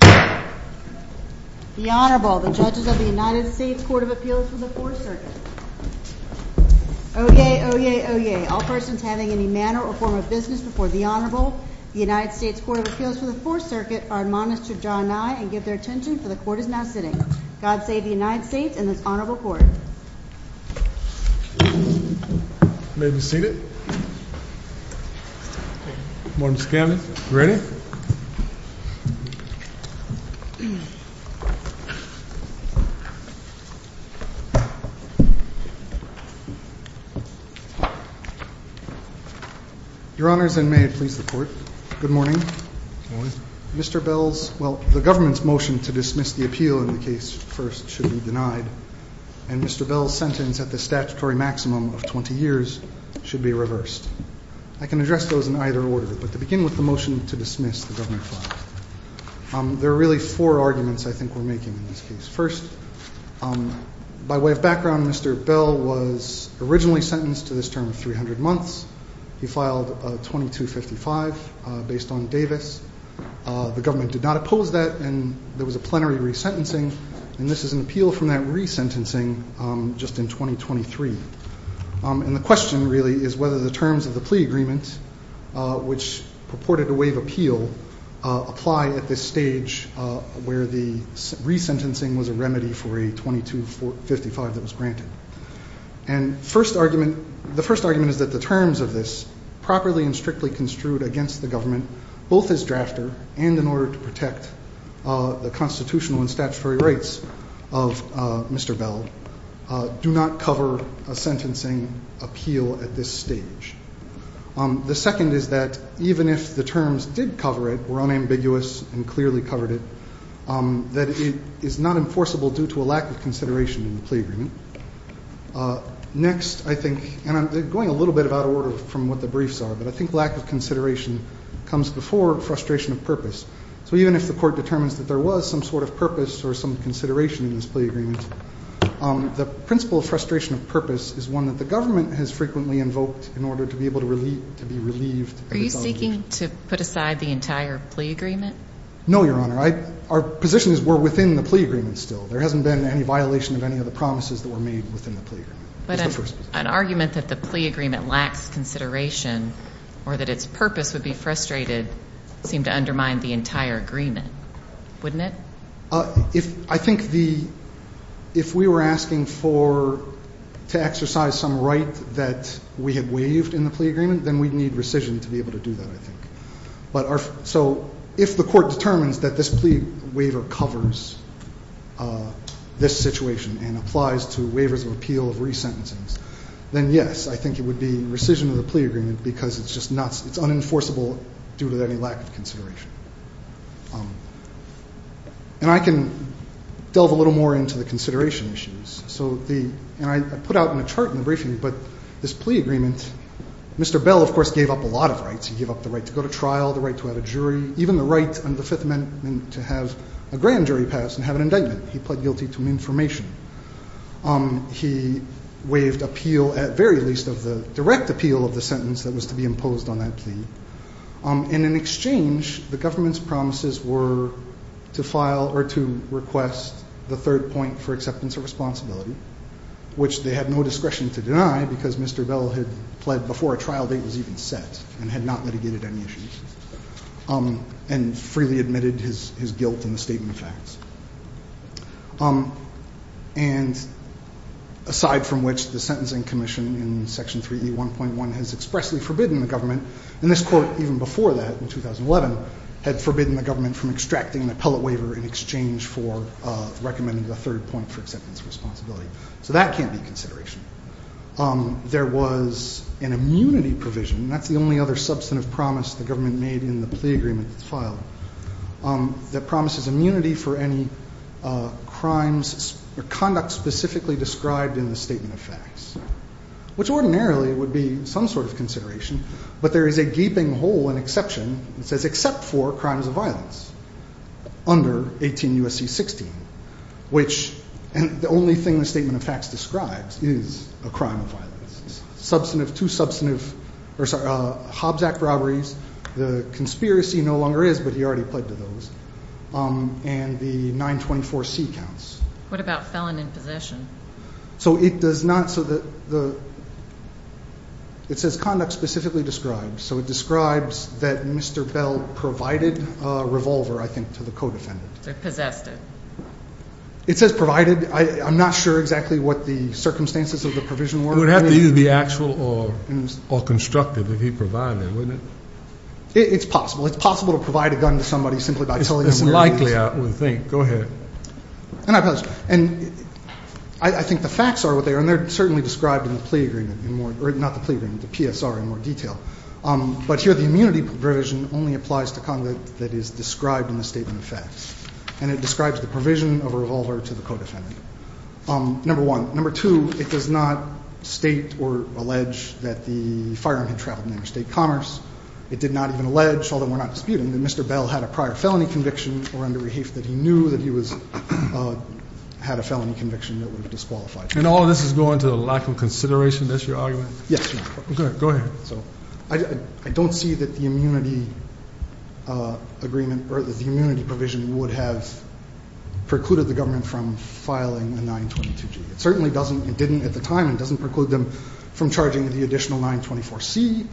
The Honorable, the Judges of the United States Court of Appeals for the Fourth Circuit. Oyez, oyez, oyez. All persons having any manner or form of business before the Honorable, the United States Court of Appeals for the Fourth Circuit, are admonished to draw nigh and give their attention, for the Court is now sitting. God save the United States and this Honorable Court. You may be seated. Good morning, Mr. Candidate. Are you ready? Your Honors, and may it please the Court, good morning. Good morning. Mr. Bell's, well, the government's motion to dismiss the appeal in the case first should be denied, and Mr. Bell's sentence at the statutory maximum of 20 years should be reversed. I can address those in either order, but to begin with the motion to dismiss the government file. There are really four arguments I think we're making in this case. By way of background, Mr. Bell was originally sentenced to this term of 300 months. He filed 2255 based on Davis. The government did not oppose that, and there was a plenary resentencing, and this is an appeal from that resentencing just in 2023. And the question really is whether the terms of the plea agreement, which purported to waive appeal, apply at this stage where the resentencing was a remedy for a 2255 that was granted. And the first argument is that the terms of this, properly and strictly construed against the government, both as drafter and in order to protect the constitutional and statutory rights of Mr. Bell, do not cover a sentencing appeal at this stage. The second is that even if the terms did cover it, were unambiguous and clearly covered it, that it is not enforceable due to a lack of consideration in the plea agreement. Next, I think, and I'm going a little bit out of order from what the briefs are, but I think lack of consideration comes before frustration of purpose. So even if the court determines that there was some sort of purpose or some consideration in this plea agreement, the principle of frustration of purpose is one that the government has frequently invoked in order to be able to be relieved. Are you seeking to put aside the entire plea agreement? No, Your Honor. Our position is we're within the plea agreement still. There hasn't been any violation of any of the promises that were made within the plea agreement. An argument that the plea agreement lacks consideration or that its purpose would be frustrated seemed to undermine the entire agreement, wouldn't it? I think if we were asking to exercise some right that we had waived in the plea agreement, then we'd need rescission to be able to do that, I think. So if the court determines that this plea waiver covers this situation and applies to waivers of appeal of resentencings, then yes, I think it would be rescission of the plea agreement because it's unenforceable due to any lack of consideration. And I can delve a little more into the consideration issues. And I put out in a chart in the briefing, but this plea agreement, Mr. Bell, of course, gave up a lot of rights. He gave up the right to go to trial, the right to have a jury, even the right under the Fifth Amendment to have a grand jury pass and have an indictment. He pled guilty to an information. He waived appeal, at very least of the direct appeal of the sentence that was to be imposed on that plea. And in exchange, the government's promises were to file or to request the third point for acceptance of responsibility, which they had no discretion to deny because Mr. Bell had pled before a trial date was even set and had not litigated any issues and freely admitted his guilt in the statement of facts. And aside from which the Sentencing Commission in Section 3E1.1 has expressly forbidden the government, and this court even before that in 2011 had forbidden the government from extracting an appellate waiver in exchange for recommending the third point for acceptance of responsibility. So that can't be consideration. There was an immunity provision, and that's the only other substantive promise the government made in the plea agreement that's filed, that promises immunity for any crimes or conduct specifically described in the statement of facts, which ordinarily would be some sort of consideration. But there is a gaping hole in exception that says except for crimes of violence under 18 U.S.C. 16, which the only thing the statement of facts describes is a crime of violence. Two substantive Hobbs Act robberies, the conspiracy no longer is, but he already pled to those, and the 924C counts. What about felon in possession? So it does not, so the, it says conduct specifically described. So it describes that Mr. Bell provided a revolver, I think, to the co-defendant. Possessed it. It says provided. I'm not sure exactly what the circumstances of the provision were. It would have to be the actual or constructive if he provided, wouldn't it? It's possible. It's possible to provide a gun to somebody simply by telling them where it is. It's likely, I would think. Go ahead. And I think the facts are what they are, and they're certainly described in the plea agreement, not the plea agreement, the PSR in more detail. But here the immunity provision only applies to conduct that is described in the statement of facts, and it describes the provision of a revolver to the co-defendant. Number one. Number two, it does not state or allege that the firearm had traveled in interstate commerce. It did not even allege, although we're not disputing, that Mr. Bell had a prior felony conviction or under rehafe that he knew that he had a felony conviction that would have disqualified him. And all of this is going to the lack of consideration? That's your argument? Yes. Okay. Go ahead. I don't see that the immunity provision would have precluded the government from filing a 922G. It certainly doesn't. It didn't at the time, and it doesn't preclude them from charging the additional 924C,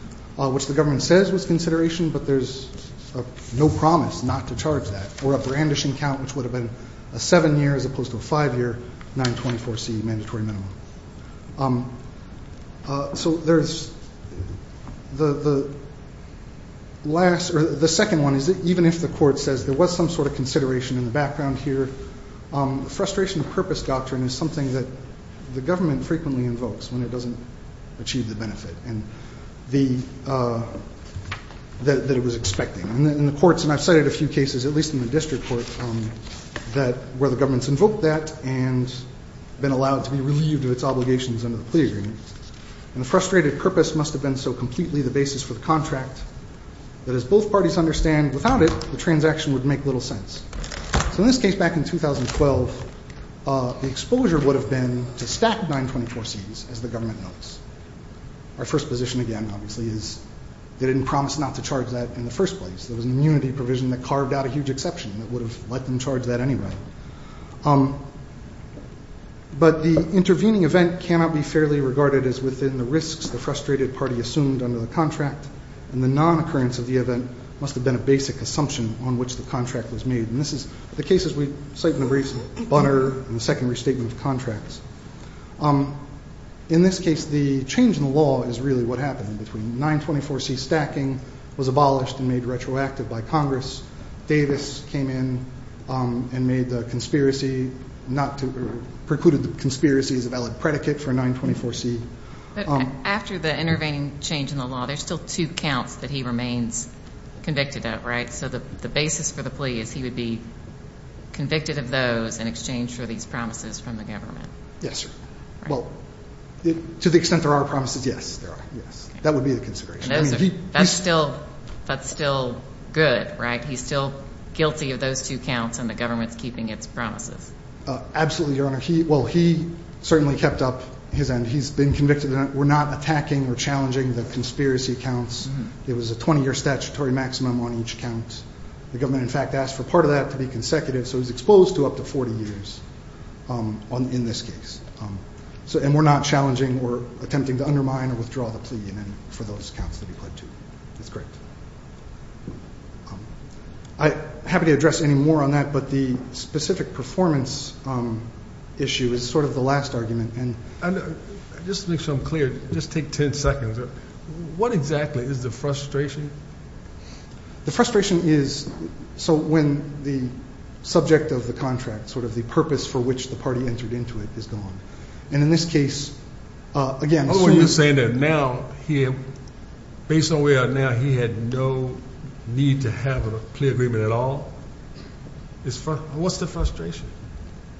which the government says was consideration, but there's no promise not to charge that, or a brandishing count which would have been a seven-year as opposed to a five-year 924C mandatory minimum. So the second one is that even if the court says there was some sort of consideration in the background here, the frustration of purpose doctrine is something that the government frequently invokes when it doesn't achieve the benefit that it was expecting. In the courts, and I've cited a few cases, at least in the district court, where the government's invoked that and been allowed to be relieved of its obligations under the plea agreement. And the frustrated purpose must have been so completely the basis for the contract that as both parties understand, without it, the transaction would make little sense. So in this case, back in 2012, the exposure would have been to stack 924Cs as the government notes. Our first position again, obviously, is they didn't promise not to charge that in the first place. There was an immunity provision that carved out a huge exception that would have let them charge that anyway. But the intervening event cannot be fairly regarded as within the risks the frustrated party assumed under the contract, and the non-occurrence of the event must have been a basic assumption on which the contract was made. And this is the case, as we cite in the briefs, of Bunner and the second restatement of contracts. In this case, the change in the law is really what happened. Between 924C stacking was abolished and made retroactive by Congress. Davis came in and made the conspiracy not to – precluded the conspiracy as a valid predicate for 924C. But after the intervening change in the law, there's still two counts that he remains convicted of, right? So the basis for the plea is he would be convicted of those in exchange for these promises from the government. Yes, sir. Well, to the extent there are promises, yes, there are, yes. That would be the consideration. That's still good, right? He's still guilty of those two counts, and the government's keeping its promises. Absolutely, Your Honor. Well, he certainly kept up his end. He's been convicted. We're not attacking or challenging the conspiracy counts. It was a 20-year statutory maximum on each count. The government, in fact, asked for part of that to be consecutive, so he's exposed to up to 40 years in this case. And we're not challenging or attempting to undermine or withdraw the plea for those counts to be pledged to. That's correct. I'm happy to address any more on that, but the specific performance issue is sort of the last argument. Just to make sure I'm clear, just take 10 seconds. What exactly is the frustration? The frustration is so when the subject of the contract, sort of the purpose for which the party entered into it, is gone. And in this case, again, assuming that now he had no need to have a plea agreement at all, what's the frustration?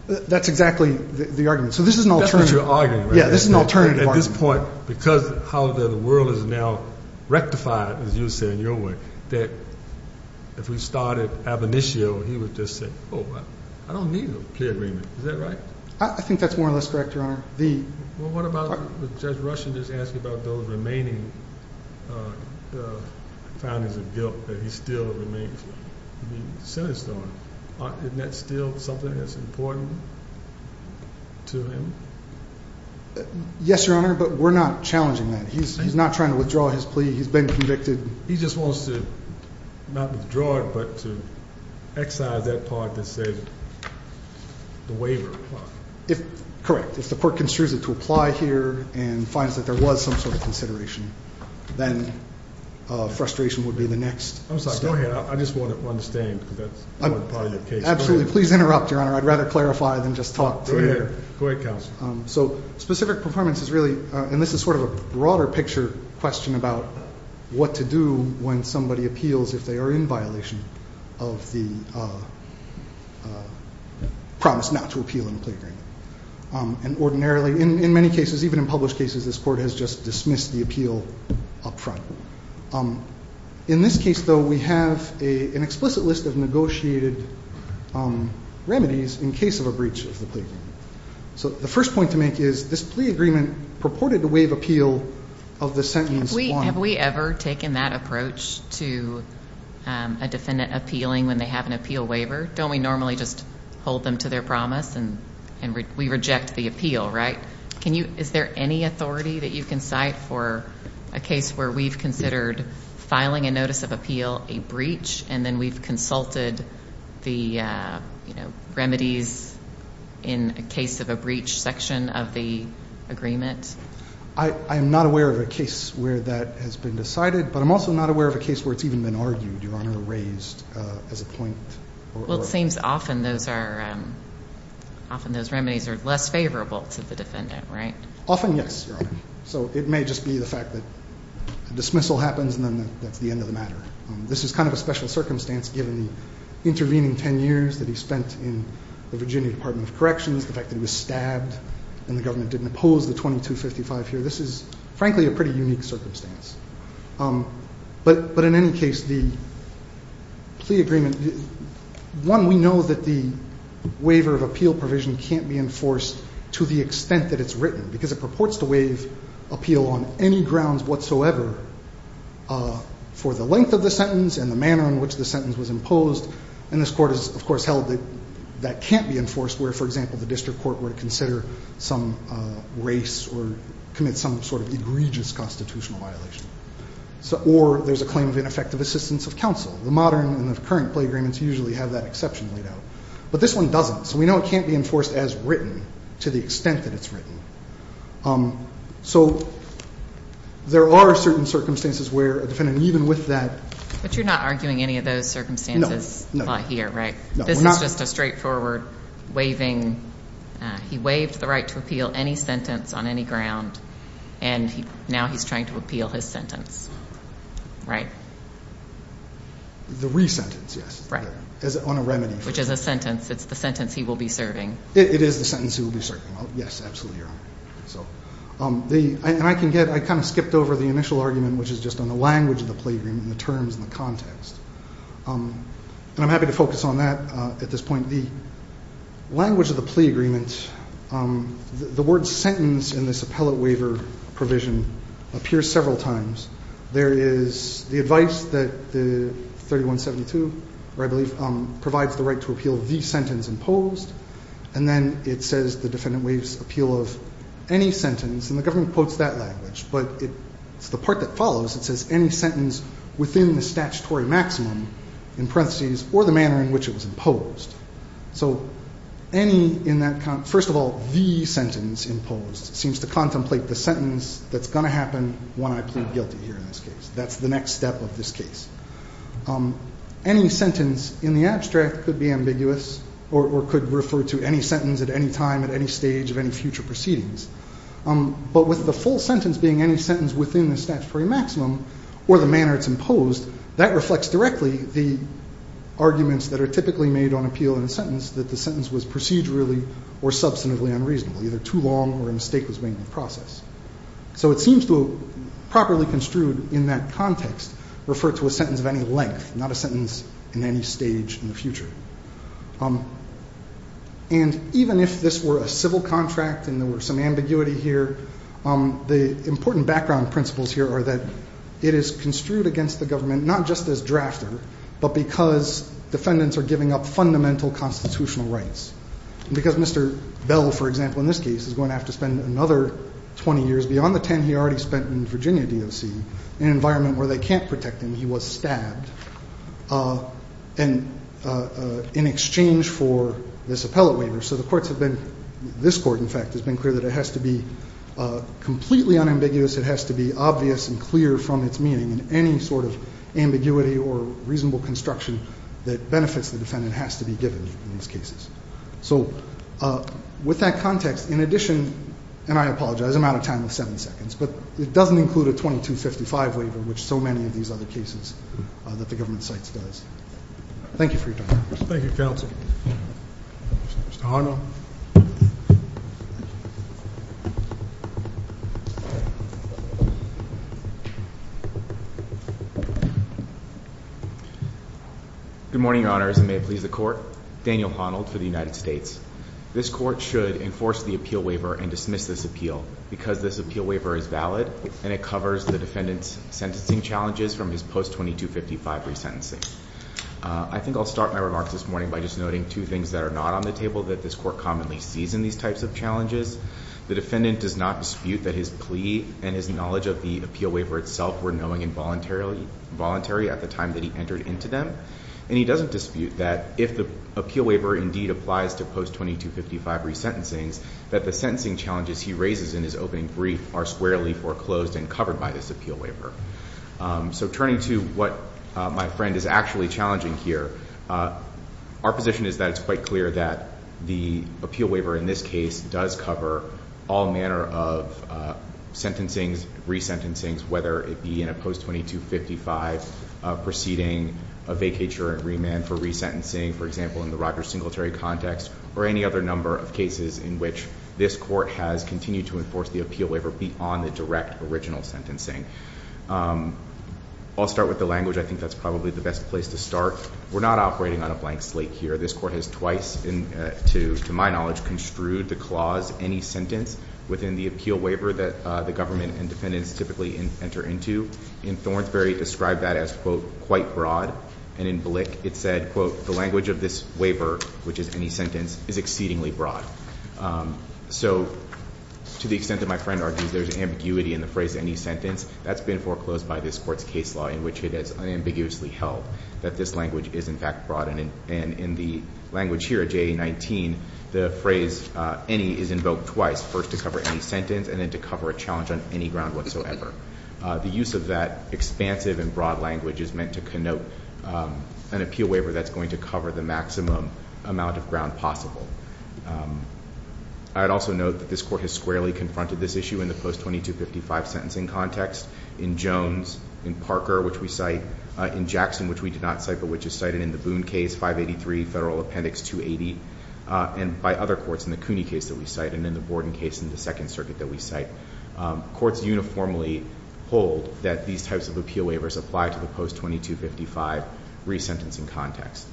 That's exactly the argument. So this is an alternative. That's what you're arguing, right? Yeah, this is an alternative argument. At this point, because how the world is now rectified, as you say, in your way, that if we started ab initio, he would just say, oh, I don't need a plea agreement. Is that right? I think that's more or less correct, Your Honor. Well, what about Judge Rushen just asking about those remaining findings of guilt that he still remains to be sentenced on? Isn't that still something that's important to him? Yes, Your Honor, but we're not challenging that. He's not trying to withdraw his plea. He's been convicted. He just wants to not withdraw it but to excise that part that says the waiver. Correct. If the court considers it to apply here and finds that there was some sort of consideration, then frustration would be the next step. Go ahead. I just want to understand because that's part of the case. Absolutely. Please interrupt, Your Honor. I'd rather clarify than just talk to you. Go ahead, counsel. So specific performance is really, and this is sort of a broader picture question about what to do when somebody appeals if they are in violation of the promise not to appeal in a plea agreement. And ordinarily, in many cases, even in published cases, this court has just dismissed the appeal up front. In this case, though, we have an explicit list of negotiated remedies in case of a breach of the plea agreement. So the first point to make is this plea agreement purported to waive appeal of the sentence one. Have we ever taken that approach to a defendant appealing when they have an appeal waiver? Don't we normally just hold them to their promise and we reject the appeal, right? Is there any authority that you can cite for a case where we've considered filing a notice of appeal, a breach, and then we've consulted the remedies in a case of a breach section of the agreement? I am not aware of a case where that has been decided, but I'm also not aware of a case where it's even been argued, Your Honor, raised as a point. Well, it seems often those remedies are less favorable to the defendant, right? Often, yes, Your Honor. So it may just be the fact that a dismissal happens and then that's the end of the matter. This is kind of a special circumstance given the intervening 10 years that he spent in the Virginia Department of Corrections, the fact that he was stabbed and the government didn't oppose the 2255 here. This is, frankly, a pretty unique circumstance. But in any case, the plea agreement, one, we know that the waiver of appeal provision can't be enforced to the extent that it's written, because it purports to waive appeal on any grounds whatsoever for the length of the sentence and the manner in which the sentence was imposed. And this Court has, of course, held that that can't be enforced where, for example, the district court were to consider some race or commit some sort of egregious constitutional violation. Or there's a claim of ineffective assistance of counsel. The modern and the current plea agreements usually have that exception laid out. But this one doesn't. So we know it can't be enforced as written to the extent that it's written. So there are certain circumstances where a defendant, even with that. But you're not arguing any of those circumstances here, right? No. This is just a straightforward waiving. He waived the right to appeal any sentence on any ground, and now he's trying to appeal his sentence. Right? The re-sentence, yes. Right. On a remedy. Which is a sentence. It's the sentence he will be serving. It is the sentence he will be serving. Yes, absolutely, Your Honor. And I kind of skipped over the initial argument, which is just on the language of the plea agreement and the terms and the context. And I'm happy to focus on that at this point. The language of the plea agreement, the word sentence in this appellate waiver provision appears several times. There is the advice that the 3172, I believe, provides the right to appeal the sentence imposed. And then it says the defendant waives appeal of any sentence. And the government quotes that language. But it's the part that follows. It says any sentence within the statutory maximum, in parentheses, or the manner in which it was imposed. So any in that context. First of all, the sentence imposed seems to contemplate the sentence that's going to happen when I plead guilty here in this case. That's the next step of this case. Any sentence in the abstract could be ambiguous or could refer to any sentence at any time at any stage of any future proceedings. But with the full sentence being any sentence within the statutory maximum or the manner it's imposed, that reflects directly the arguments that are typically made on appeal in a sentence, that the sentence was procedurally or substantively unreasonable. Either too long or a mistake was made in the process. So it seems to properly construed in that context refer to a sentence of any length, not a sentence in any stage in the future. And even if this were a civil contract and there were some ambiguity here, the important background principles here are that it is construed against the government, not just as drafter, but because defendants are giving up fundamental constitutional rights. Because Mr. Bell, for example, in this case, is going to have to spend another 20 years beyond the 10 he already spent in Virginia DOC, in an environment where they can't protect him, he was stabbed. And in exchange for this appellate waiver. So the courts have been, this court, in fact, has been clear that it has to be completely unambiguous. It has to be obvious and clear from its meaning. And any sort of ambiguity or reasonable construction that benefits the defendant has to be given in these cases. So with that context, in addition, and I apologize, I'm out of time with seven seconds, but it doesn't include a 2255 waiver, which so many of these other cases that the government cites does. Thank you for your time. Thank you, counsel. Mr. Honnold. Good morning, your honors, and may it please the court. Daniel Honnold for the United States. This court should enforce the appeal waiver and dismiss this appeal. Because this appeal waiver is valid, and it covers the defendant's sentencing challenges from his post-2255 resentencing. I think I'll start my remarks this morning by just noting two things that are not on the table that this court commonly sees in these types of challenges. The defendant does not dispute that his plea and his knowledge of the appeal waiver itself were knowing and voluntary at the time that he entered into them. And he doesn't dispute that if the appeal waiver indeed applies to post-2255 resentencings, that the sentencing challenges he raises in his opening brief are squarely foreclosed and covered by this appeal waiver. So turning to what my friend is actually challenging here, our position is that it's quite clear that the appeal waiver in this case does cover all manner of sentencing, resentencings, whether it be in a post-2255 proceeding, a vacatur and remand for resentencing. For example, in the Roger Singletary context, or any other number of cases in which this court has continued to enforce the appeal waiver beyond the direct original sentencing. I'll start with the language. I think that's probably the best place to start. We're not operating on a blank slate here. This court has twice, to my knowledge, construed the clause any sentence within the appeal waiver that the government and defendants typically enter into. In Thornsberry, it described that as, quote, quite broad. And in Blick, it said, quote, the language of this waiver, which is any sentence, is exceedingly broad. So to the extent that my friend argues there's ambiguity in the phrase any sentence, that's been foreclosed by this court's case law in which it is unambiguously held that this language is in fact broad. And in the language here, JA-19, the phrase any is invoked twice, first to cover any sentence and then to cover a challenge on any ground whatsoever. The use of that expansive and broad language is meant to connote an appeal waiver that's going to cover the maximum amount of ground possible. I'd also note that this court has squarely confronted this issue in the post-2255 sentencing context. In Jones, in Parker, which we cite, in Jackson, which we did not cite but which is cited in the Boone case, 583 Federal Appendix 280, and by other courts in the Cooney case that we cite and in the Borden case in the Second Circuit that we cite. Courts uniformly hold that these types of appeal waivers apply to the post-2255 resentencing context.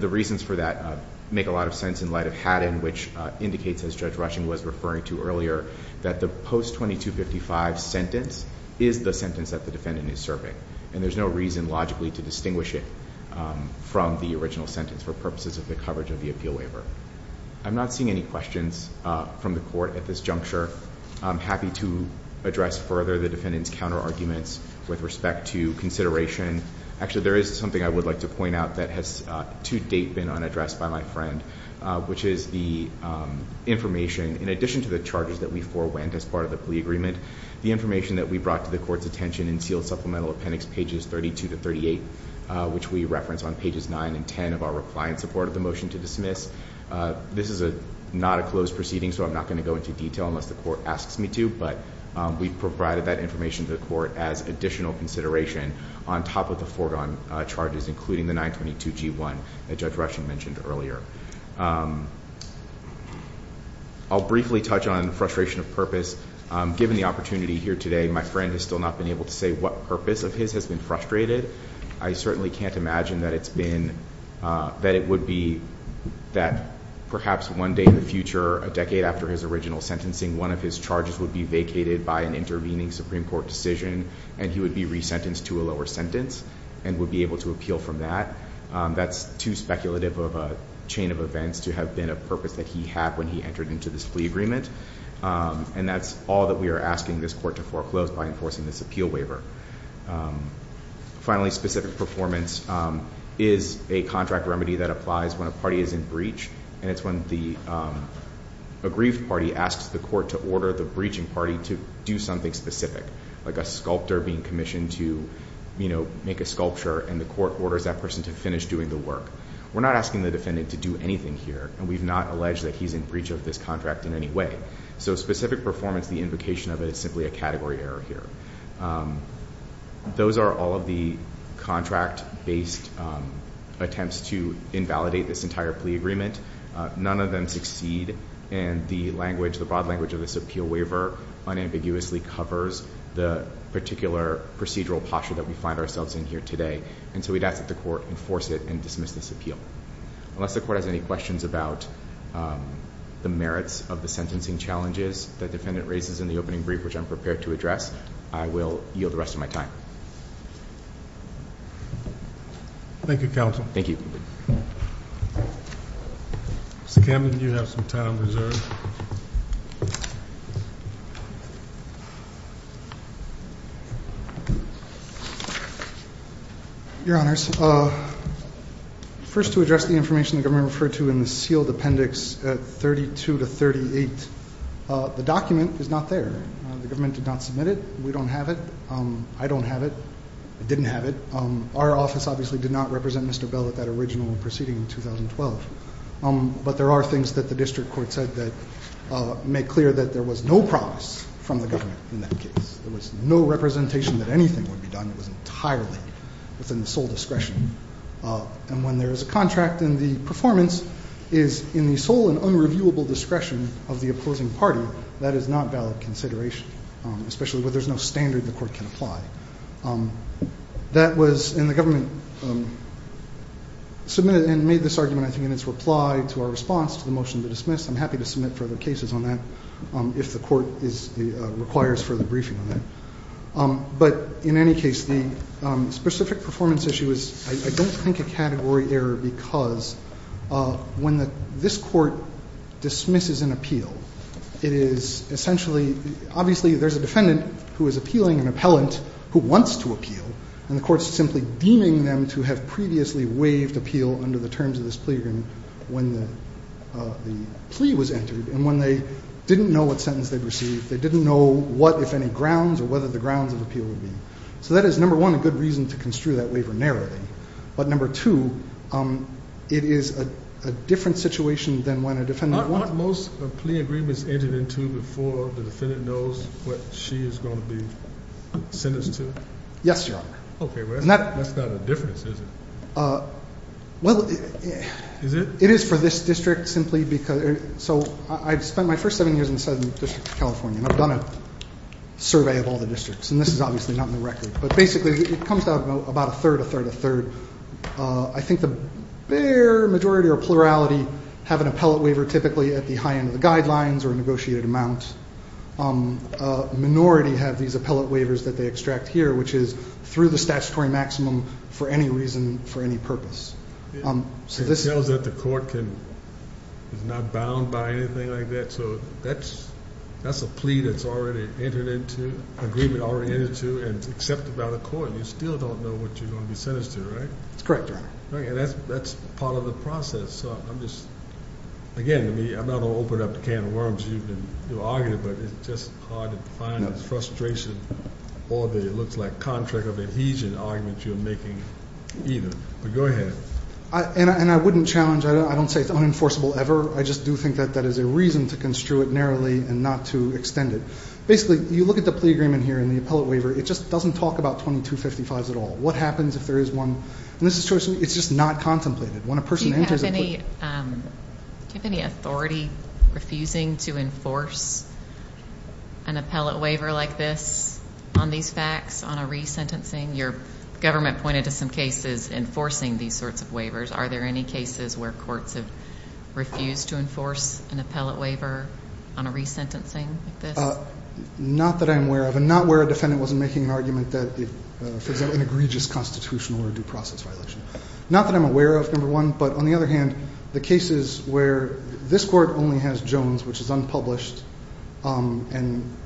The reasons for that make a lot of sense in light of Haddon, which indicates, as Judge Rushing was referring to earlier, that the post-2255 sentence is the sentence that the defendant is serving. And there's no reason logically to distinguish it from the original sentence for purposes of the coverage of the appeal waiver. I'm not seeing any questions from the court at this juncture. I'm happy to address further the defendant's counterarguments with respect to consideration. Actually, there is something I would like to point out that has to date been unaddressed by my friend, which is the information, in addition to the charges that we forewent as part of the plea agreement, the information that we brought to the court's attention in Sealed Supplemental Appendix pages 32 to 38, which we reference on pages 9 and 10 of our reply in support of the motion to dismiss. This is not a closed proceeding, so I'm not going to go into detail unless the court asks me to, but we've provided that information to the court as additional consideration on top of the foregone charges, including the 922G1 that Judge Rushing mentioned earlier. I'll briefly touch on frustration of purpose. Given the opportunity here today, my friend has still not been able to say what purpose of his has been frustrated. I certainly can't imagine that it's been, that it would be that perhaps one day in the future, a decade after his original sentencing, one of his charges would be vacated by an intervening Supreme Court decision and he would be resentenced to a lower sentence and would be able to appeal from that. That's too speculative of a chain of events to have been a purpose that he had when he entered into this plea agreement, and that's all that we are asking this court to foreclose by enforcing this appeal waiver. Finally, specific performance is a contract remedy that applies when a party is in breach, and it's when the aggrieved party asks the court to order the breaching party to do something specific, like a sculptor being commissioned to make a sculpture, and the court orders that person to finish doing the work. We're not asking the defendant to do anything here, and we've not alleged that he's in breach of this contract in any way. So specific performance, the invocation of it, is simply a category error here. Those are all of the contract-based attempts to invalidate this entire plea agreement. None of them succeed, and the broad language of this appeal waiver unambiguously covers the particular procedural posture that we find ourselves in here today. And so we'd ask that the court enforce it and dismiss this appeal. Unless the court has any questions about the merits of the sentencing challenges that the defendant raises in the opening brief, which I'm prepared to address, I will yield the rest of my time. Thank you, Counsel. Thank you. Mr. Camden, you have some time reserved. Your Honors, first to address the information the government referred to in the sealed appendix 32 to 38. The document is not there. The government did not submit it. We don't have it. I don't have it. I didn't have it. Our office obviously did not represent Mr. Bell at that original proceeding in 2012. But there are things that the district court said that make clear that there was no promise from the government in that case. There was no representation that anything would be done. It was entirely within the sole discretion. And when there is a contract and the performance is in the sole and unreviewable discretion of the opposing party, that is not valid consideration, especially when there's no standard the court can apply. That was in the government submitted and made this argument, I think, in its reply to our response to the motion to dismiss. I'm happy to submit further cases on that if the court requires further briefing on that. But in any case, the specific performance issue is, I don't think, a category error because when this court dismisses an appeal, it is essentially, obviously there's a defendant who is appealing an appellant who wants to appeal, and the court's simply deeming them to have previously waived appeal under the terms of this plea agreement when the plea was entered. And when they didn't know what sentence they'd receive, they didn't know what, if any, grounds or whether the grounds of appeal would be. So that is, number one, a good reason to construe that waiver narrowly. But number two, it is a different situation than when a defendant- Aren't most plea agreements entered into before the defendant knows what she is going to be sentenced to? Yes, Your Honor. Okay. That's not a difference, is it? Well- Is it? It is for this district simply because- So I've spent my first seven years in the Southern District of California, and I've done a survey of all the districts, and this is obviously not in the record. But basically it comes down to about a third, a third, a third. I think the bare majority or plurality have an appellate waiver typically at the high end of the guidelines or a negotiated amount. A minority have these appellate waivers that they extract here, which is through the statutory maximum for any reason, for any purpose. It shows that the court is not bound by anything like that, so that's a plea that's already entered into, agreement already entered into, and it's accepted by the court. You still don't know what you're going to be sentenced to, right? That's correct, Your Honor. Okay. And that's part of the process. So I'm just- Again, I'm not going to open up the can of worms you've been arguing, but it's just hard to find the frustration or the, it looks like, contract of adhesion argument you're making either. But go ahead. And I wouldn't challenge- I don't say it's unenforceable ever. I just do think that that is a reason to construe it narrowly and not to extend it. Basically, you look at the plea agreement here and the appellate waiver, it just doesn't talk about 2255s at all. What happens if there is one? And this is just not contemplated. When a person enters a plea- Do you have any authority refusing to enforce an appellate waiver like this on these facts on a resentencing? Your government pointed to some cases enforcing these sorts of waivers. Are there any cases where courts have refused to enforce an appellate waiver on a resentencing like this? Not that I'm aware of, and not where a defendant wasn't making an argument that, for example, an egregious constitutional or due process violation. Not that I'm aware of, number one. But on the other hand, the cases where this court only has Jones, which is unpublished, and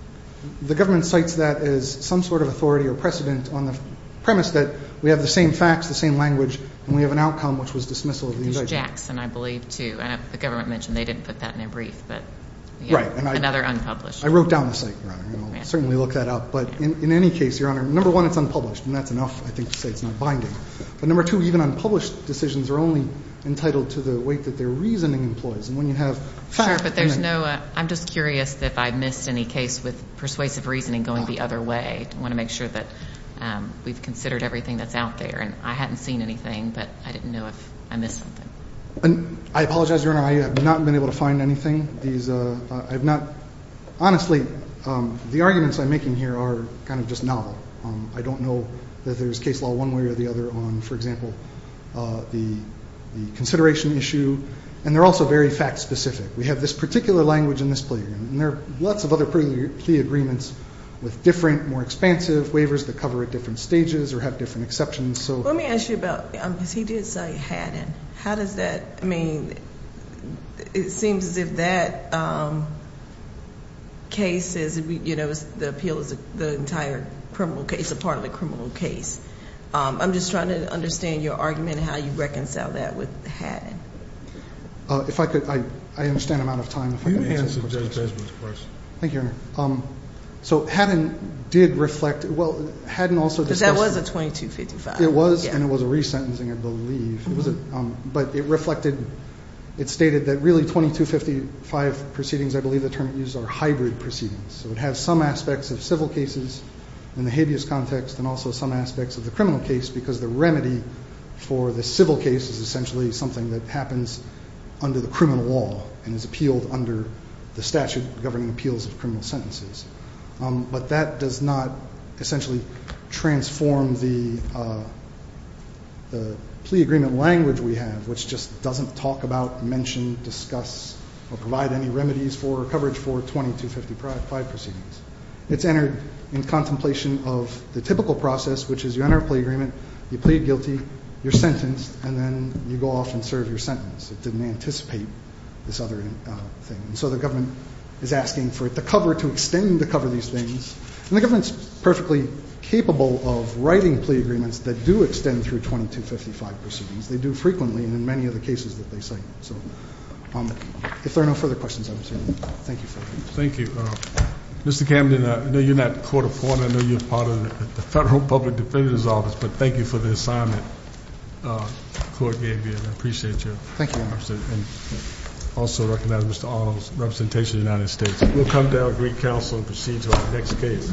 the government cites that as some sort of authority or precedent on the premise that we have the same facts, the same language, and we have an outcome, which was dismissal of the indictment. It was Jackson, I believe, too. And the government mentioned they didn't put that in their brief. Right. Another unpublished. I wrote down the site, Your Honor, and I'll certainly look that up. But in any case, Your Honor, number one, it's unpublished, and that's enough, I think, to say it's not binding. But number two, even unpublished decisions are only entitled to the weight that their reasoning employs. And when you have fact- Sure, but there's no- I'm just curious if I missed any case with persuasive reasoning going the other way. I want to make sure that we've considered everything that's out there. And I hadn't seen anything, but I didn't know if I missed something. I apologize, Your Honor, I have not been able to find anything. I have not-honestly, the arguments I'm making here are kind of just novel. I don't know that there's case law one way or the other on, for example, the consideration issue. And they're also very fact-specific. We have this particular language in this plea agreement, and there are lots of other plea agreements with different, more expansive waivers that cover at different stages or have different exceptions. Let me ask you about, because he did say Haddon. How does that, I mean, it seems as if that case is, you know, the appeal is the entire criminal case, a part of a criminal case. I'm just trying to understand your argument and how you reconcile that with Haddon. If I could, I understand I'm out of time. You can answer Judge Desmond's question. Thank you, Your Honor. So Haddon did reflect, well, Haddon also discussed- Because that was a 2255. It was, and it was a resentencing, I believe. But it reflected, it stated that really 2255 proceedings, I believe the term it uses, are hybrid proceedings. So it has some aspects of civil cases in the habeas context and also some aspects of the criminal case because the remedy for the civil case is essentially something that happens under the criminal law and is appealed under the statute governing appeals of criminal sentences. But that does not essentially transform the plea agreement language we have, which just doesn't talk about, mention, discuss, or provide any remedies for coverage for 2255 proceedings. It's entered in contemplation of the typical process, which is you enter a plea agreement, you plead guilty, you're sentenced, and then you go off and serve your sentence. It didn't anticipate this other thing. So the government is asking for the cover, to extend the cover of these things, and the government is perfectly capable of writing plea agreements that do extend through 2255 proceedings. They do frequently in many of the cases that they cite. So if there are no further questions, I'm assuming. Thank you for that. Thank you. Mr. Camden, I know you're not court-appointed. I know you're part of the Federal Public Defender's Office, but thank you for the assignment the court gave you, and I appreciate you. Thank you, Your Honor. I also recognize Mr. Arnold's representation of the United States. We'll come to our brief counsel and proceed to our next case.